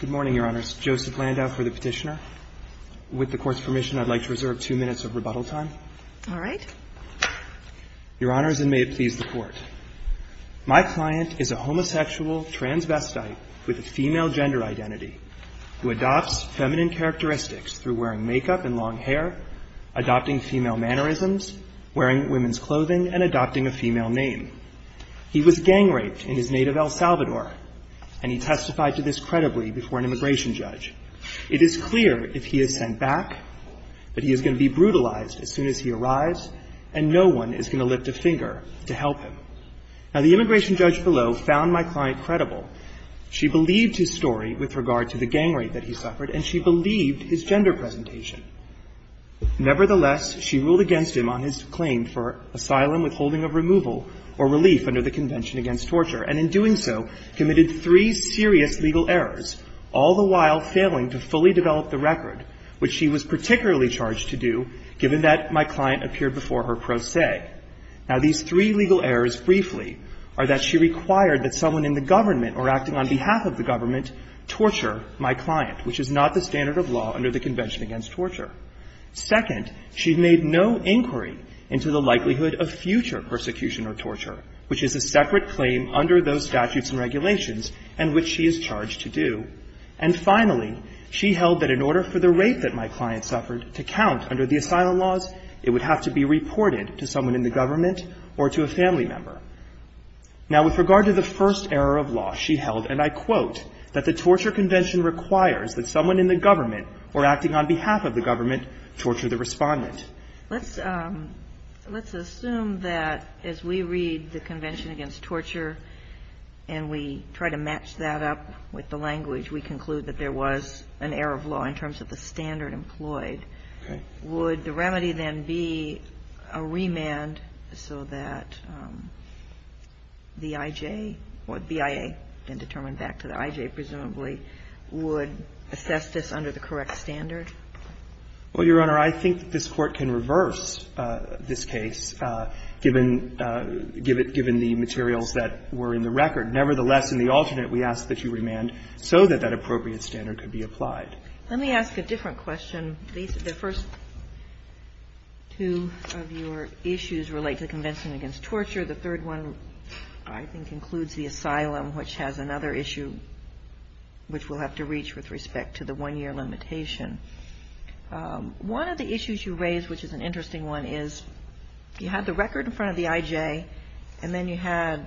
Good morning, Your Honors. Joseph Landau for the petitioner. With the Court's permission, I'd like to reserve two minutes of rebuttal time. All right. Your Honors, and may it please the Court, my client is a homosexual transvestite with a female gender identity who adopts feminine characteristics through wearing makeup and long hair, adopting female mannerisms, wearing women's clothing, and adopting a female name. He was gang raped in his native El Salvador, and he testified to this credibly before an immigration judge. It is clear if he is sent back that he is going to be brutalized as soon as he arrives, and no one is going to lift a finger to help him. Now, the immigration judge below found my client credible. She believed his story with regard to the gang rape that he suffered, and she believed his gender presentation. Nevertheless, she ruled against him on his claim for asylum withholding of removal or relief under the Convention Against Torture, and in doing so, committed three serious legal errors, all the while failing to fully develop the record, which she was particularly charged to do, given that my client appeared before her pro se. Now, these three legal errors, briefly, are that she required that someone in the government or acting on behalf of the government torture my client, which is not the standard of law under the Convention Against Torture. Second, she made no inquiry into the likelihood of future persecution or torture, which is a separate claim under those statutes and regulations and which she is charged to do. And finally, she held that in order for the rape that my client suffered to count under the asylum laws, it would have to be reported to someone in the government or to a family member. Now, with regard to the first error of law, she held, and I quote, that the torture convention requires that someone in the government or acting on behalf of the government torture the respondent. Let's assume that as we read the Convention Against Torture and we try to match that up with the language, we conclude that there was an error of law in terms of the standard employed. Okay. Would the remedy then be a remand so that the I.J. or the BIA, then determined back to the I.J., presumably, would assess this under the correct standard? Well, Your Honor, I think this Court can reverse this case, given the materials that were in the record. Nevertheless, in the alternate, we ask that you remand so that that appropriate standard could be applied. Let me ask a different question. The first two of your issues relate to the Convention Against Torture. The third one, I think, includes the asylum, which has another issue, which we'll have to reach with respect to the one-year limitation. One of the issues you raise, which is an interesting one, is you had the record in front of the I.J., and then you had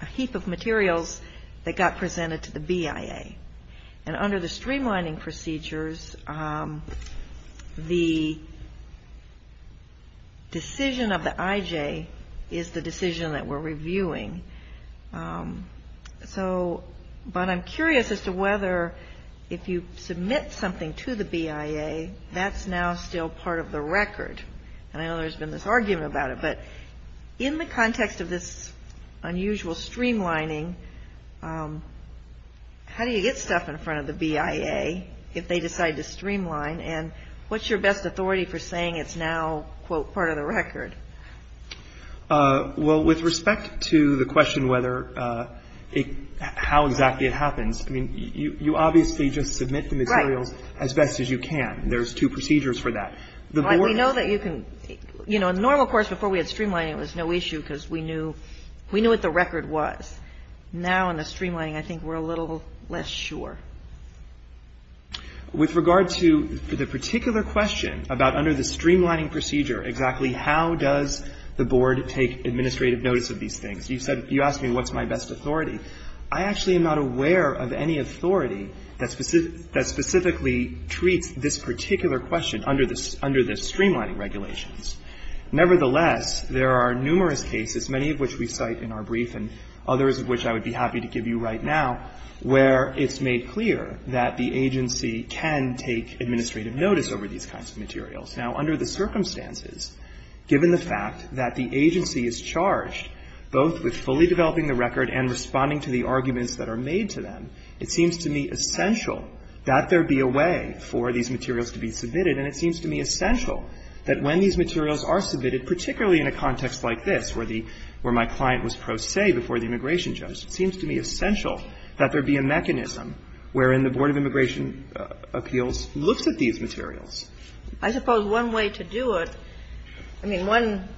a heap of materials that got presented to the BIA. And under the streamlining procedures, the decision of the I.J. is the decision that we're reviewing. So, but I'm curious as to whether if you submit something to the BIA, that's now still part of the record. And I know there's been this argument about it, but in the context of this unusual streamlining, how do you get stuff in front of the BIA if they decide to streamline? And what's your best authority for saying it's now, quote, part of the record? Well, with respect to the question whether it – how exactly it happens, I mean, you obviously just submit the materials as best as you can. There's two procedures for that. We know that you can – you know, in the normal course, before we had streamlining, it was no issue because we knew what the record was. Now, in the streamlining, I think we're a little less sure. With regard to the particular question about under the streamlining procedure exactly how does the Board take administrative notice of these things, you said – you asked me what's my best authority. I actually am not aware of any authority that specifically treats this particular question under the streamlining regulations. Nevertheless, there are numerous cases, many of which we cite in our brief and others of which I would be happy to give you right now, where it's made clear that the agency can take administrative notice over these kinds of materials. Now, under the circumstances, given the fact that the agency is charged both with fully developing the record and responding to the arguments that are made to them, it seems to me essential that there be a way for these materials to be submitted. And it seems to me essential that when these materials are submitted, particularly in a context like this where the – where my client was pro se before the immigration judge, it seems to me essential that there be a mechanism wherein the Board of Immigration Appeals looks at these materials. I suppose one way to do it – I mean, one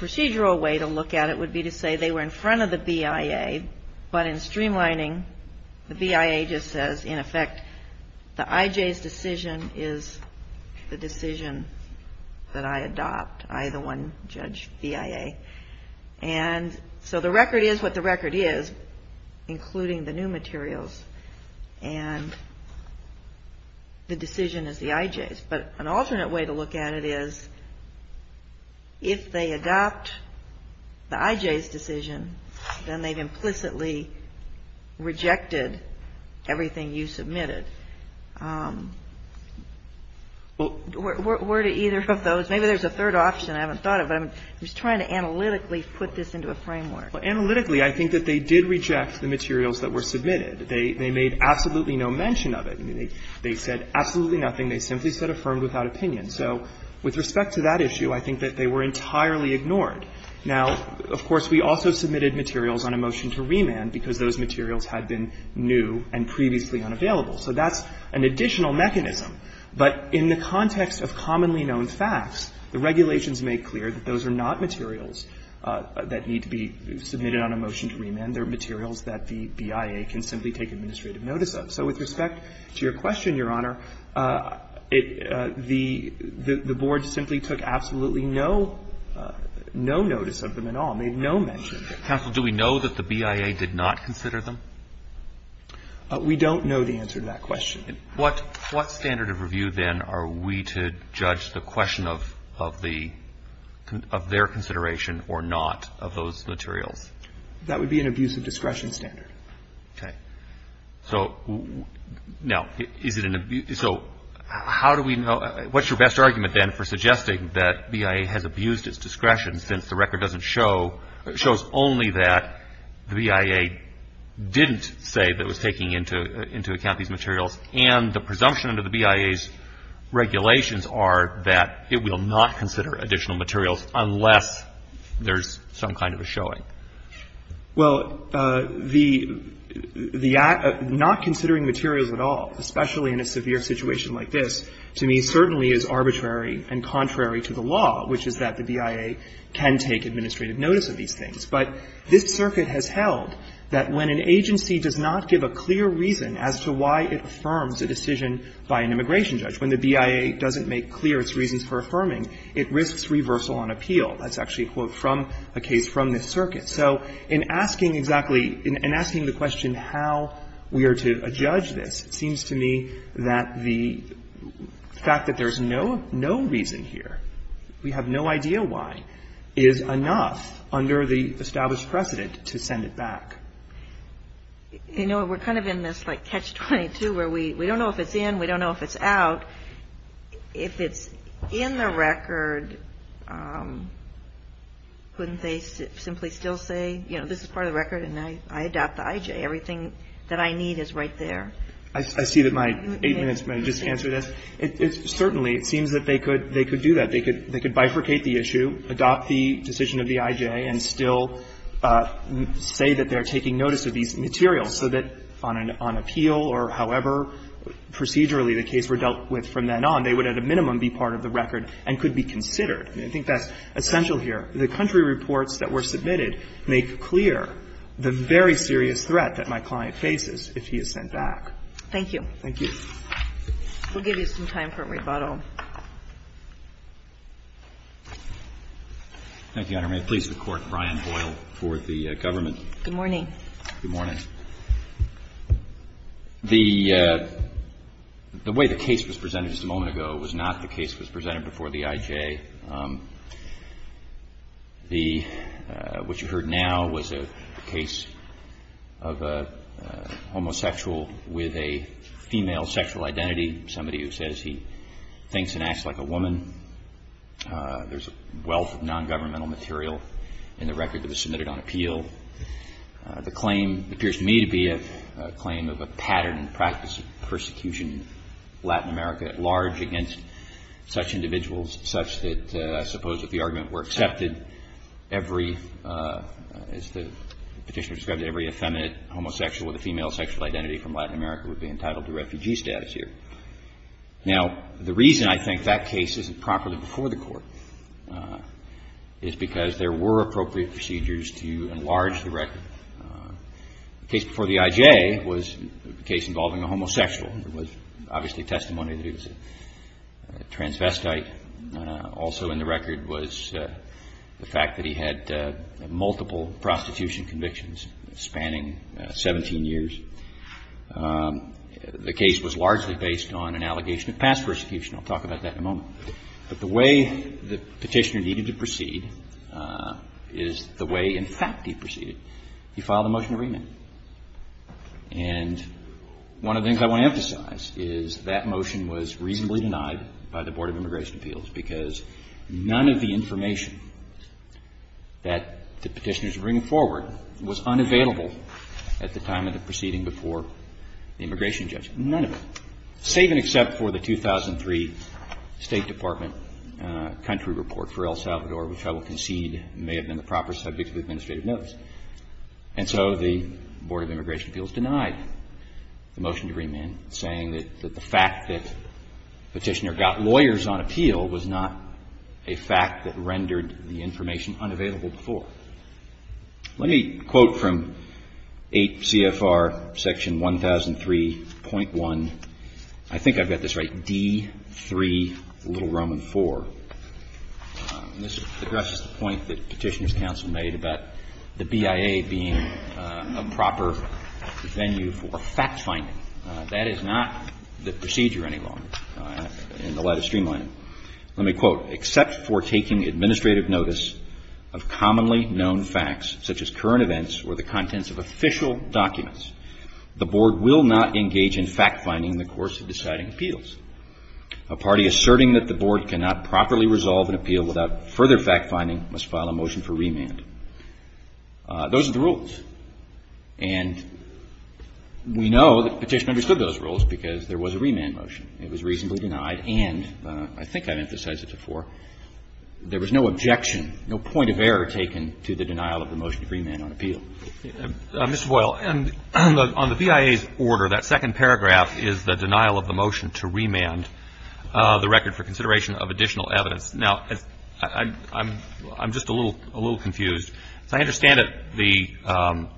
procedural way to look at it would be to say they were in front of the BIA, but in streamlining, the BIA just says, in effect, the IJ's decision is the decision that I adopt. I, the one judge, BIA. And so the record is what the record is, including the new materials, and the decision is the IJ's. But an alternate way to look at it is if they adopt the IJ's decision, then they've implicitly rejected everything you submitted. Where do either of those – maybe there's a third option. I haven't thought of it. I'm just trying to analytically put this into a framework. Well, analytically, I think that they did reject the materials that were submitted. They made absolutely no mention of it. I mean, they said absolutely nothing. They simply said affirmed without opinion. So with respect to that issue, I think that they were entirely ignored. Now, of course, we also submitted materials on a motion to remand because those materials had been new and previously unavailable. So that's an additional mechanism. But in the context of commonly known facts, the regulations make clear that those are not materials that need to be submitted on a motion to remand. They're materials that the BIA can simply take administrative notice of. So with respect to your question, Your Honor, the board simply took absolutely no notice of them at all, made no mention of them. Counsel, do we know that the BIA did not consider them? We don't know the answer to that question. What standard of review, then, are we to judge the question of their consideration or not of those materials? That would be an abuse of discretion standard. Okay. So now, is it an abuse? So how do we know? What's your best argument, then, for suggesting that BIA has abused its discretion since the record doesn't show or shows only that the BIA didn't say that it was taking into account these materials and the presumption under the BIA's regulations are that it will not consider additional materials unless there's some kind of a showing? Well, the act of not considering materials at all, especially in a severe situation like this, to me certainly is arbitrary and contrary to the law, which is that the BIA can take administrative notice of these things. But this circuit has held that when an agency does not give a clear reason as to why it affirms a decision by an immigration judge, when the BIA doesn't make clear its reasons for affirming, it risks reversal on appeal. That's actually a quote from a case from this circuit. So in asking exactly – in asking the question how we are to judge this, it seems to me that the fact that there's no reason here, we have no idea why, is enough under the established precedent to send it back. You know, we're kind of in this like catch-22 where we don't know if it's in, we don't know if it's out. If it's in the record, wouldn't they simply still say, you know, this is part of the record and I adopt the IJ, everything that I need is right there? I see that my eight minutes may have just answered this. Certainly, it seems that they could do that. They could bifurcate the issue, adopt the decision of the IJ, and still say that they're taking notice of these materials so that on appeal or however procedurally the case were dealt with from then on, they would at a minimum be part of the record and could be considered. I think that's essential here. The country reports that were submitted make clear the very serious threat that my client faces if he is sent back. Thank you. Thank you. We'll give you some time for rebuttal. Thank you, Your Honor. May it please the Court, Brian Boyle for the government. Good morning. Good morning. The way the case was presented just a moment ago was not the case that was presented before the IJ. The – what you heard now was a case of a homosexual with a female sexual identity, somebody who says he thinks and acts like a woman. There's a wealth of nongovernmental material in the record that was submitted on appeal. The claim appears to me to be a claim of a pattern and practice of persecution in Latin America at large against such individuals such that I suppose if the argument were accepted, every – as the Petitioner described it, every effeminate homosexual with a female sexual identity from Latin America would be entitled to refugee status here. Now, the reason I think that case isn't properly before the Court is because there were appropriate procedures to enlarge the record. The case before the IJ was a case involving a homosexual. There was obviously testimony that he was a transvestite. Also in the record was the fact that he had multiple prostitution convictions spanning 17 years. The case was largely based on an allegation of past persecution. I'll talk about that in a moment. But the way the Petitioner needed to proceed is the way in fact he proceeded. He filed a motion of remand. And one of the things I want to emphasize is that motion was reasonably denied by the Board of Immigration Appeals because none of the information that the Petitioners bring forward was unavailable at the time of the proceeding before the immigration judge. None of it. Save and except for the 2003 State Department country report for El Salvador, which I will concede may have been the proper subject of administrative notice. And so the Board of Immigration Appeals denied the motion to remand, saying that the fact that Petitioner got lawyers on appeal was not a fact that rendered the information unavailable before. Let me quote from 8 CFR section 1003.1. I think I've got this right. D3, Little Roman 4. This addresses the point that Petitioner's counsel made about the BIA being a proper venue for fact-finding. That is not the procedure any longer in the light of streamlining. Let me quote. Except for taking administrative notice of commonly known facts such as current events or the contents of official documents, the Board will not engage in fact-finding in the course of deciding appeals. A party asserting that the Board cannot properly resolve an appeal without further fact-finding must file a motion for remand. Those are the rules. And we know that Petitioners understood those rules because there was a remand motion. It was reasonably denied, and I think I've emphasized it before, there was no objection, no point of error taken to the denial of the motion to remand on appeal. Mr. Boyle, on the BIA's order, that second paragraph is the denial of the motion to remand the record for consideration of additional evidence. Now, I'm just a little confused. I understand that the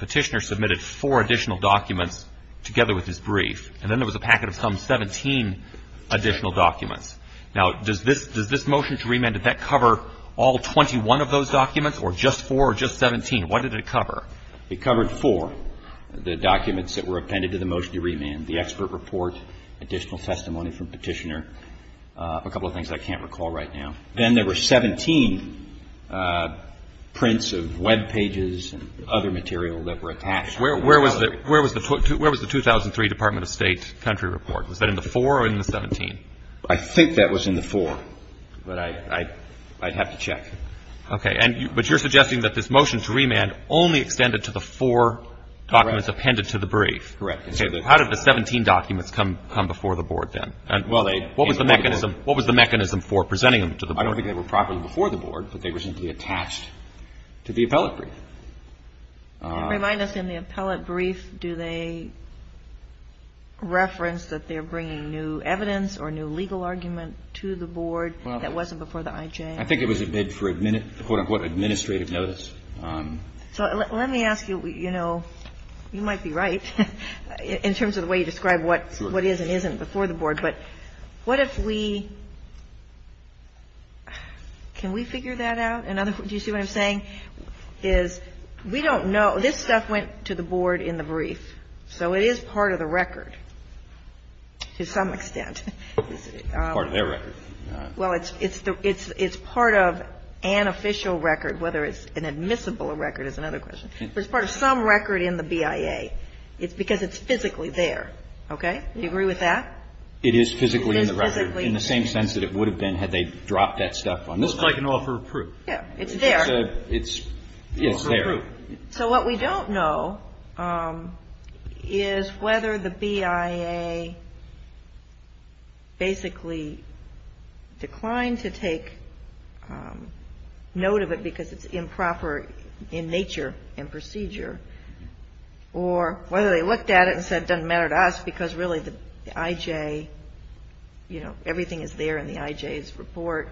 Petitioner submitted four additional documents together with his brief. And then there was a packet of some 17 additional documents. Now, does this motion to remand, did that cover all 21 of those documents or just four or just 17? What did it cover? It covered four, the documents that were appended to the motion to remand, the expert report, additional testimony from Petitioner, a couple of things I can't recall right now. Then there were 17 prints of Web pages and other material that were attached. Where was the 2003 Department of State country report? Was that in the four or in the 17? I think that was in the four, but I'd have to check. Okay. But you're suggesting that this motion to remand only extended to the four documents appended to the brief. Correct. How did the 17 documents come before the Board then? What was the mechanism for presenting them to the Board? I don't think they were properly before the Board, but they were simply attached to the appellate brief. Remind us, in the appellate brief, do they reference that they're bringing new evidence or new legal argument to the Board that wasn't before the IJ? I think it was a bid for, quote, unquote, administrative notice. So let me ask you, you know, you might be right in terms of the way you describe what is and isn't before the Board, but what if we, can we figure that out? Do you see what I'm saying? What I'm saying is we don't know. This stuff went to the Board in the brief. So it is part of the record to some extent. Part of their record. Well, it's part of an official record, whether it's an admissible record is another question. If it's part of some record in the BIA, it's because it's physically there. Okay? Do you agree with that? It is physically in the record. It is physically in the record. In the same sense that it would have been had they dropped that stuff on this one. Well, it's like an offer of proof. Yeah. It's there. It's there. So what we don't know is whether the BIA basically declined to take note of it because it's improper in nature and procedure, or whether they looked at it and said it doesn't matter to us because really the IJ, you know, everything is there in the IJ's report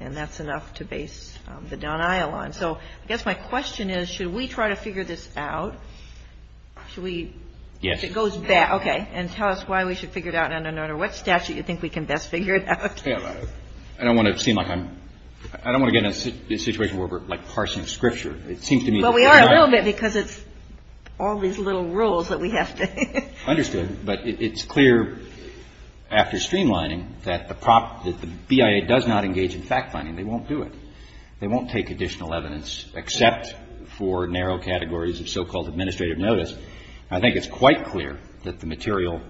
and that's enough to base the Don Iyal on. So I guess my question is, should we try to figure this out? Should we? Yes. It goes back. Okay. And tell us why we should figure it out and under what statute do you think we can best figure it out? I don't want to seem like I'm – I don't want to get in a situation where we're like parsing scripture. It seems to me that we're not. Well, we are a little bit because it's all these little rules that we have to – Understood. But it's clear after streamlining that the BIA does not engage in fact finding. They won't do it. They won't take additional evidence except for narrow categories of so-called administrative notice. I think it's quite clear that the material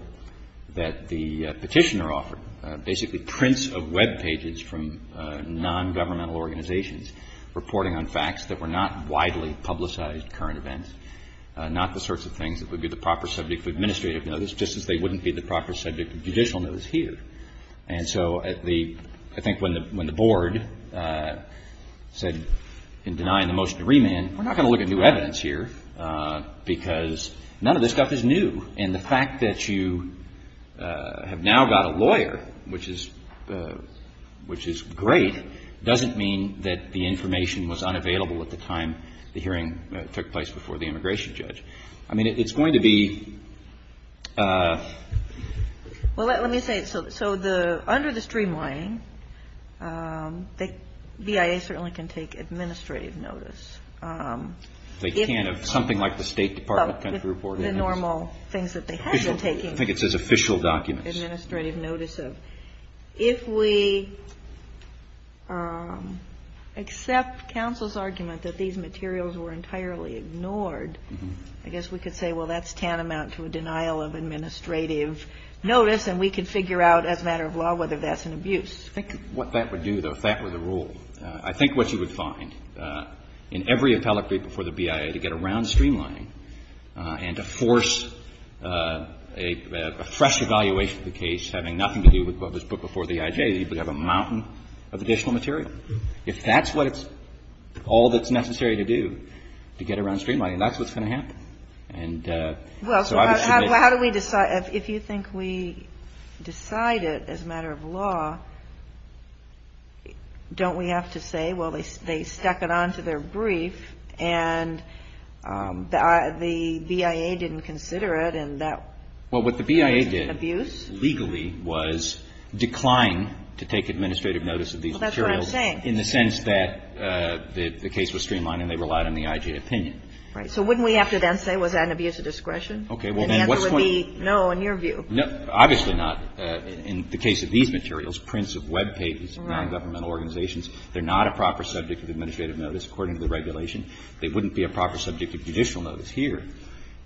that the petitioner offered, basically prints of web pages from nongovernmental organizations reporting on facts that were not widely publicized at current events, not the sorts of things that would be the proper subject of administrative notice, just as they wouldn't be the proper subject of judicial notice here. And so the – I think when the Board said in denying the motion to remand, we're not going to look at new evidence here because none of this stuff is new. And the fact that you have now got a lawyer, which is – which is great, doesn't mean that the information was unavailable at the time the hearing took place before the immigration judge. I mean, it's going to be – Well, let me say it. So the – under the streamlining, the BIA certainly can take administrative notice. They can if something like the State Department kind of reported. The normal things that they have been taking. I think it says official documents. Administrative notice of. So if we accept counsel's argument that these materials were entirely ignored, I guess we could say, well, that's tantamount to a denial of administrative notice, and we can figure out as a matter of law whether that's an abuse. I think what that would do, though, if that were the rule, I think what you would find in every appellate brief before the BIA to get around streamlining and to force a fresh evaluation of the case having nothing to do with what was put before the IJ. You would have a mountain of additional material. If that's what it's – all that's necessary to do to get around streamlining, that's what's going to happen. And so I would submit. Well, so how do we decide – if you think we decide it as a matter of law, don't we have to say, well, they stuck it onto their brief, and the BIA didn't consider it, and that was an abuse? Well, what the BIA did legally was decline to take administrative notice of these materials. Well, that's what I'm saying. In the sense that the case was streamlined and they relied on the IJ opinion. Right. So wouldn't we have to then say, was that an abuse of discretion? Okay. Well, then what's the point? And the answer would be no in your view. Obviously not. In the case of these materials, prints of webpages of nongovernmental organizations, they're not a proper subject of administrative notice according to the regulation. They wouldn't be a proper subject of judicial notice here.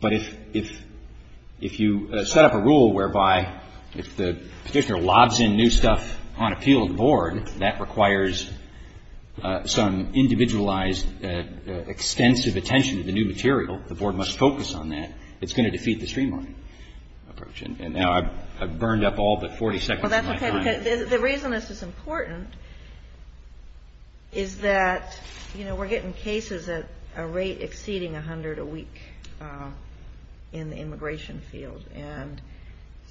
But if you set up a rule whereby if the petitioner lobs in new stuff on appeal to the board, that requires some individualized extensive attention to the new material. The board must focus on that. It's going to defeat the streamlined approach. And now I've burned up all but 40 seconds of my time. Well, that's okay, because the reason this is important is that, you know, we're getting cases at a rate exceeding 100 a week in the immigration field. And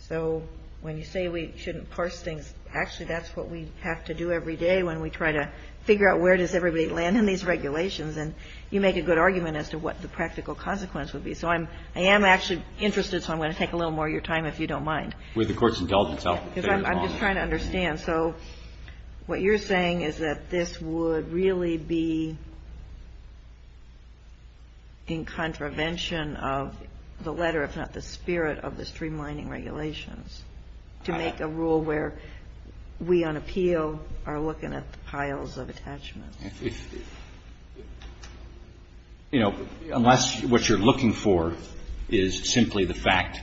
so when you say we shouldn't parse things, actually that's what we have to do every day when we try to figure out where does everybody land in these regulations. And you make a good argument as to what the practical consequence would be. So I am actually interested, so I'm going to take a little more of your time if you don't mind. With the Court's intelligence help. I'm just trying to understand. And so what you're saying is that this would really be in contravention of the letter, if not the spirit of the streamlining regulations, to make a rule where we on appeal are looking at piles of attachments. You know, unless what you're looking for is simply the fact,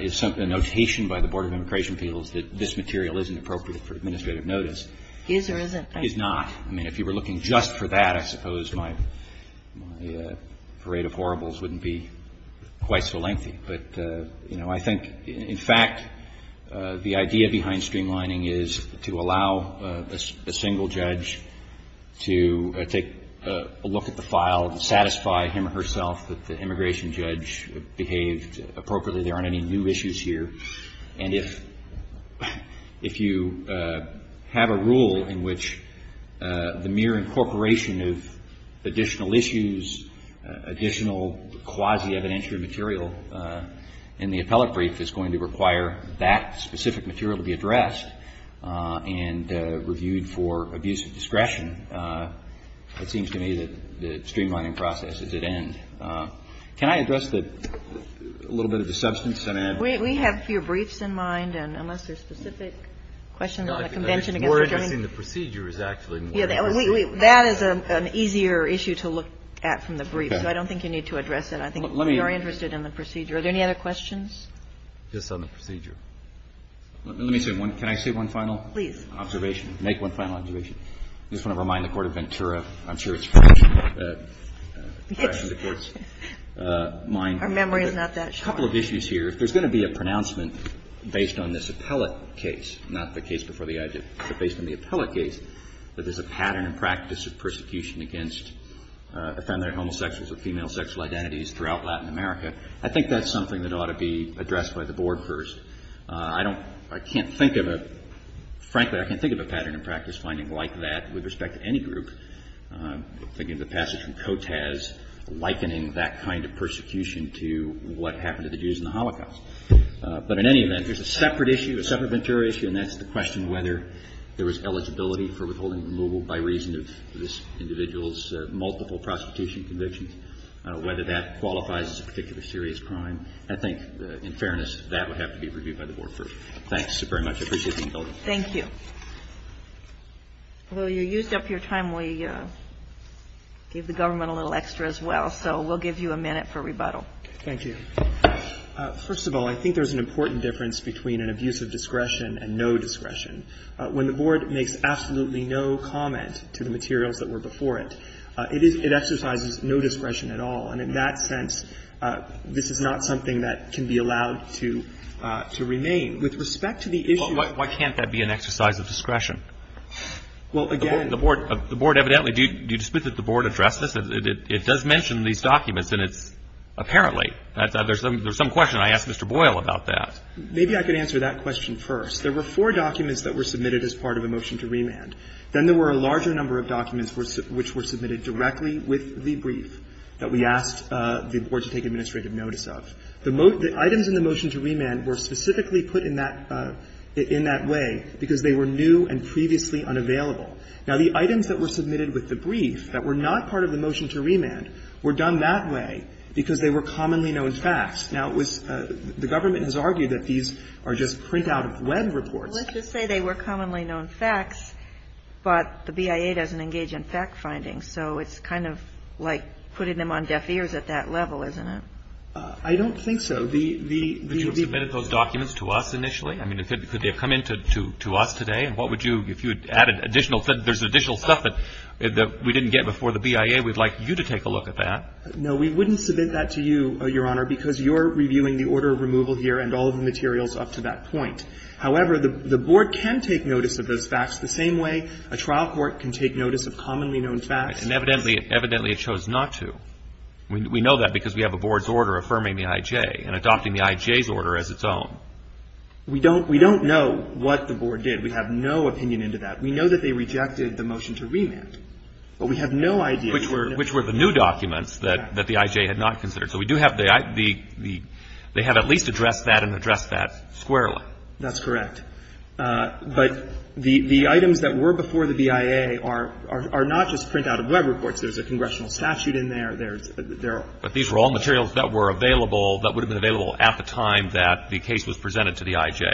is a notation by the Board of Immigration Appeals that this material isn't appropriate for administrative notice. Is or isn't. Is not. I mean, if you were looking just for that, I suppose my parade of horribles wouldn't be quite so lengthy. But, you know, I think, in fact, the idea behind streamlining is to allow a single judge to take a look at the file and satisfy him or herself that the immigration judge behaved appropriately, there aren't any new issues here. And if you have a rule in which the mere incorporation of additional issues, additional quasi-evidentiary material in the appellate brief is going to require that specific material to be addressed and reviewed for abuse of discretion, it seems to me that the streamlining process is at end. Can I address a little bit of the substance and add? We have a few briefs in mind, and unless there's specific questions on the convention against the Germany. More interesting, the procedure is actually more interesting. That is an easier issue to look at from the brief, so I don't think you need to address it. I think we are interested in the procedure. Are there any other questions? Just on the procedure. Let me say one. Can I say one final observation? Please. Make one final observation. I just want to remind the Court of Ventura. I'm sure it's fresh in the Court's mind. Our memory is not that sharp. A couple of issues here. If there's going to be a pronouncement based on this appellate case, not the case before the adjutant, but based on the appellate case, that there's a pattern and practice of persecution against effeminate homosexuals or female sexual identities throughout Latin America, I think that's something that ought to be addressed by the Board first. I don't – I can't think of a – frankly, I can't think of a pattern and practice finding like that with respect to any group. I'm thinking of the passage from Cotas likening that kind of persecution to what happened to the Jews in the Holocaust. But in any event, there's a separate issue, a separate Ventura issue, and that's the question whether there was eligibility for withholding removal by reason of this individual's multiple prosecution convictions, whether that qualifies as a particular serious crime. I think, in fairness, that would have to be reviewed by the Board first. Thanks very much. I appreciate the indulgence. Thank you. Well, you used up your time. We gave the government a little extra as well. So we'll give you a minute for rebuttal. Thank you. First of all, I think there's an important difference between an abuse of discretion and no discretion. When the Board makes absolutely no comment to the materials that were before it, it is – it exercises no discretion at all. And in that sense, this is not something that can be allowed to remain. With respect to the issue – Well, why can't that be an exercise of discretion? Well, again – The Board evidently – do you dispute that the Board addressed this? It does mention these documents, and it's – apparently. There's some question I asked Mr. Boyle about that. Maybe I could answer that question first. There were four documents that were submitted as part of a motion to remand. Then there were a larger number of documents which were submitted directly with the brief that we asked the Board to take administrative notice of. The items in the motion to remand were specifically put in that – in that way because they were new and previously unavailable. Now, the items that were submitted with the brief that were not part of the motion to remand were done that way because they were commonly known facts. Now, it was – the government has argued that these are just print-out-of-Web reports. Well, let's just say they were commonly known facts, but the BIA doesn't engage in fact-finding. So it's kind of like putting them on deaf ears at that level, isn't it? I don't think so. The – the – But you have submitted those documents to us initially? I mean, could they have come in to – to us today? And what would you – if you had added additional – there's additional stuff that we didn't get before the BIA. We'd like you to take a look at that. No, we wouldn't submit that to you, Your Honor, because you're reviewing the order of removal here and all of the materials up to that point. However, the Board can take notice of those facts the same way a trial court can take notice of commonly known facts. And evidently – evidently it chose not to. We know that because we have a Board's order affirming the I.J. and adopting the I.J.'s order as its own. We don't – we don't know what the Board did. We have no opinion into that. We know that they rejected the motion to remand. But we have no idea. Which were – which were the new documents that – that the I.J. had not considered. So we do have the – the – they have at least addressed that and addressed that squarely. That's correct. But the – the items that were before the BIA are – are not just print-out-of-Web reports. There's a congressional statute in there. There's – there are – But these were all materials that were available – that would have been available at the time that the case was presented to the I.J.?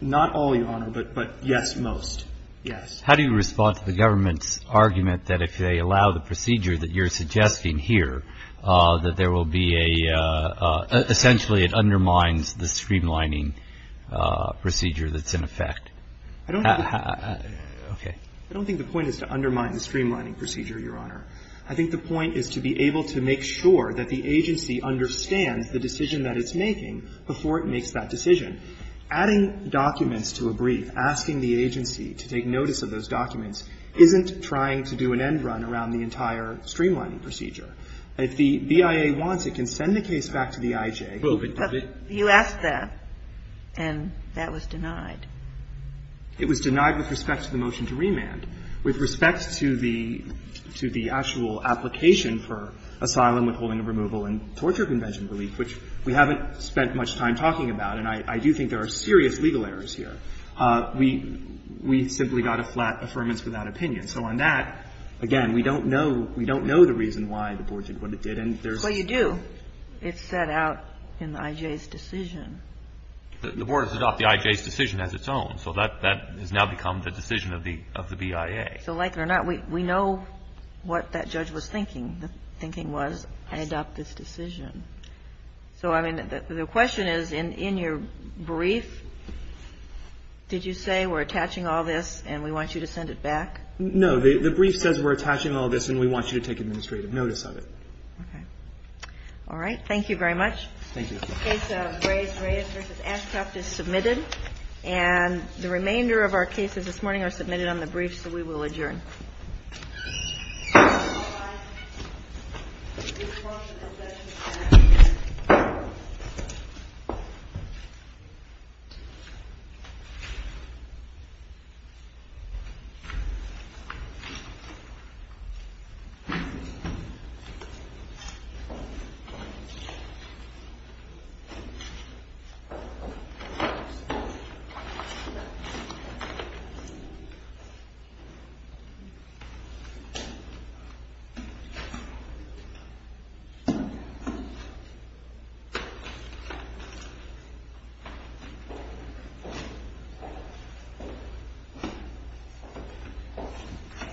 Not all, Your Honor, but – but yes, most. Yes. How do you respond to the government's argument that if they allow the procedure that you're suggesting here, that there will be a – essentially it undermines the streamlining procedure that's in effect? I don't think – Okay. I don't think the point is to undermine the streamlining procedure, Your Honor. I think the point is to be able to make sure that the agency understands the decision that it's making before it makes that decision. Adding documents to a brief, asking the agency to take notice of those documents, isn't trying to do an end run around the entire streamlining procedure. If the BIA wants, it can send the case back to the I.J. But you asked that, and that was denied. It was denied with respect to the motion to remand. With respect to the – to the actual application for asylum withholding and removal and torture convention relief, which we haven't spent much time talking about, and I do think there are serious legal errors here, we – we simply got a flat affirmance without opinion. So on that, again, we don't know – we don't know the reason why the Board did what it did, and there's – But you do. It's set out in the I.J.'s decision. The Board has set out the I.J.'s decision as its own. So that – that has now become the decision of the – of the BIA. So like it or not, we know what that judge was thinking. The thinking was, I adopt this decision. So, I mean, the question is, in your brief, did you say we're attaching all this and we want you to send it back? No. The brief says we're attaching all this and we want you to take administrative notice of it. Okay. All right. Thank you very much. Thank you. The case of Reyes vs. Ashcroft is submitted, and the remainder of our cases this morning are submitted on the brief, so we will adjourn. Thank you.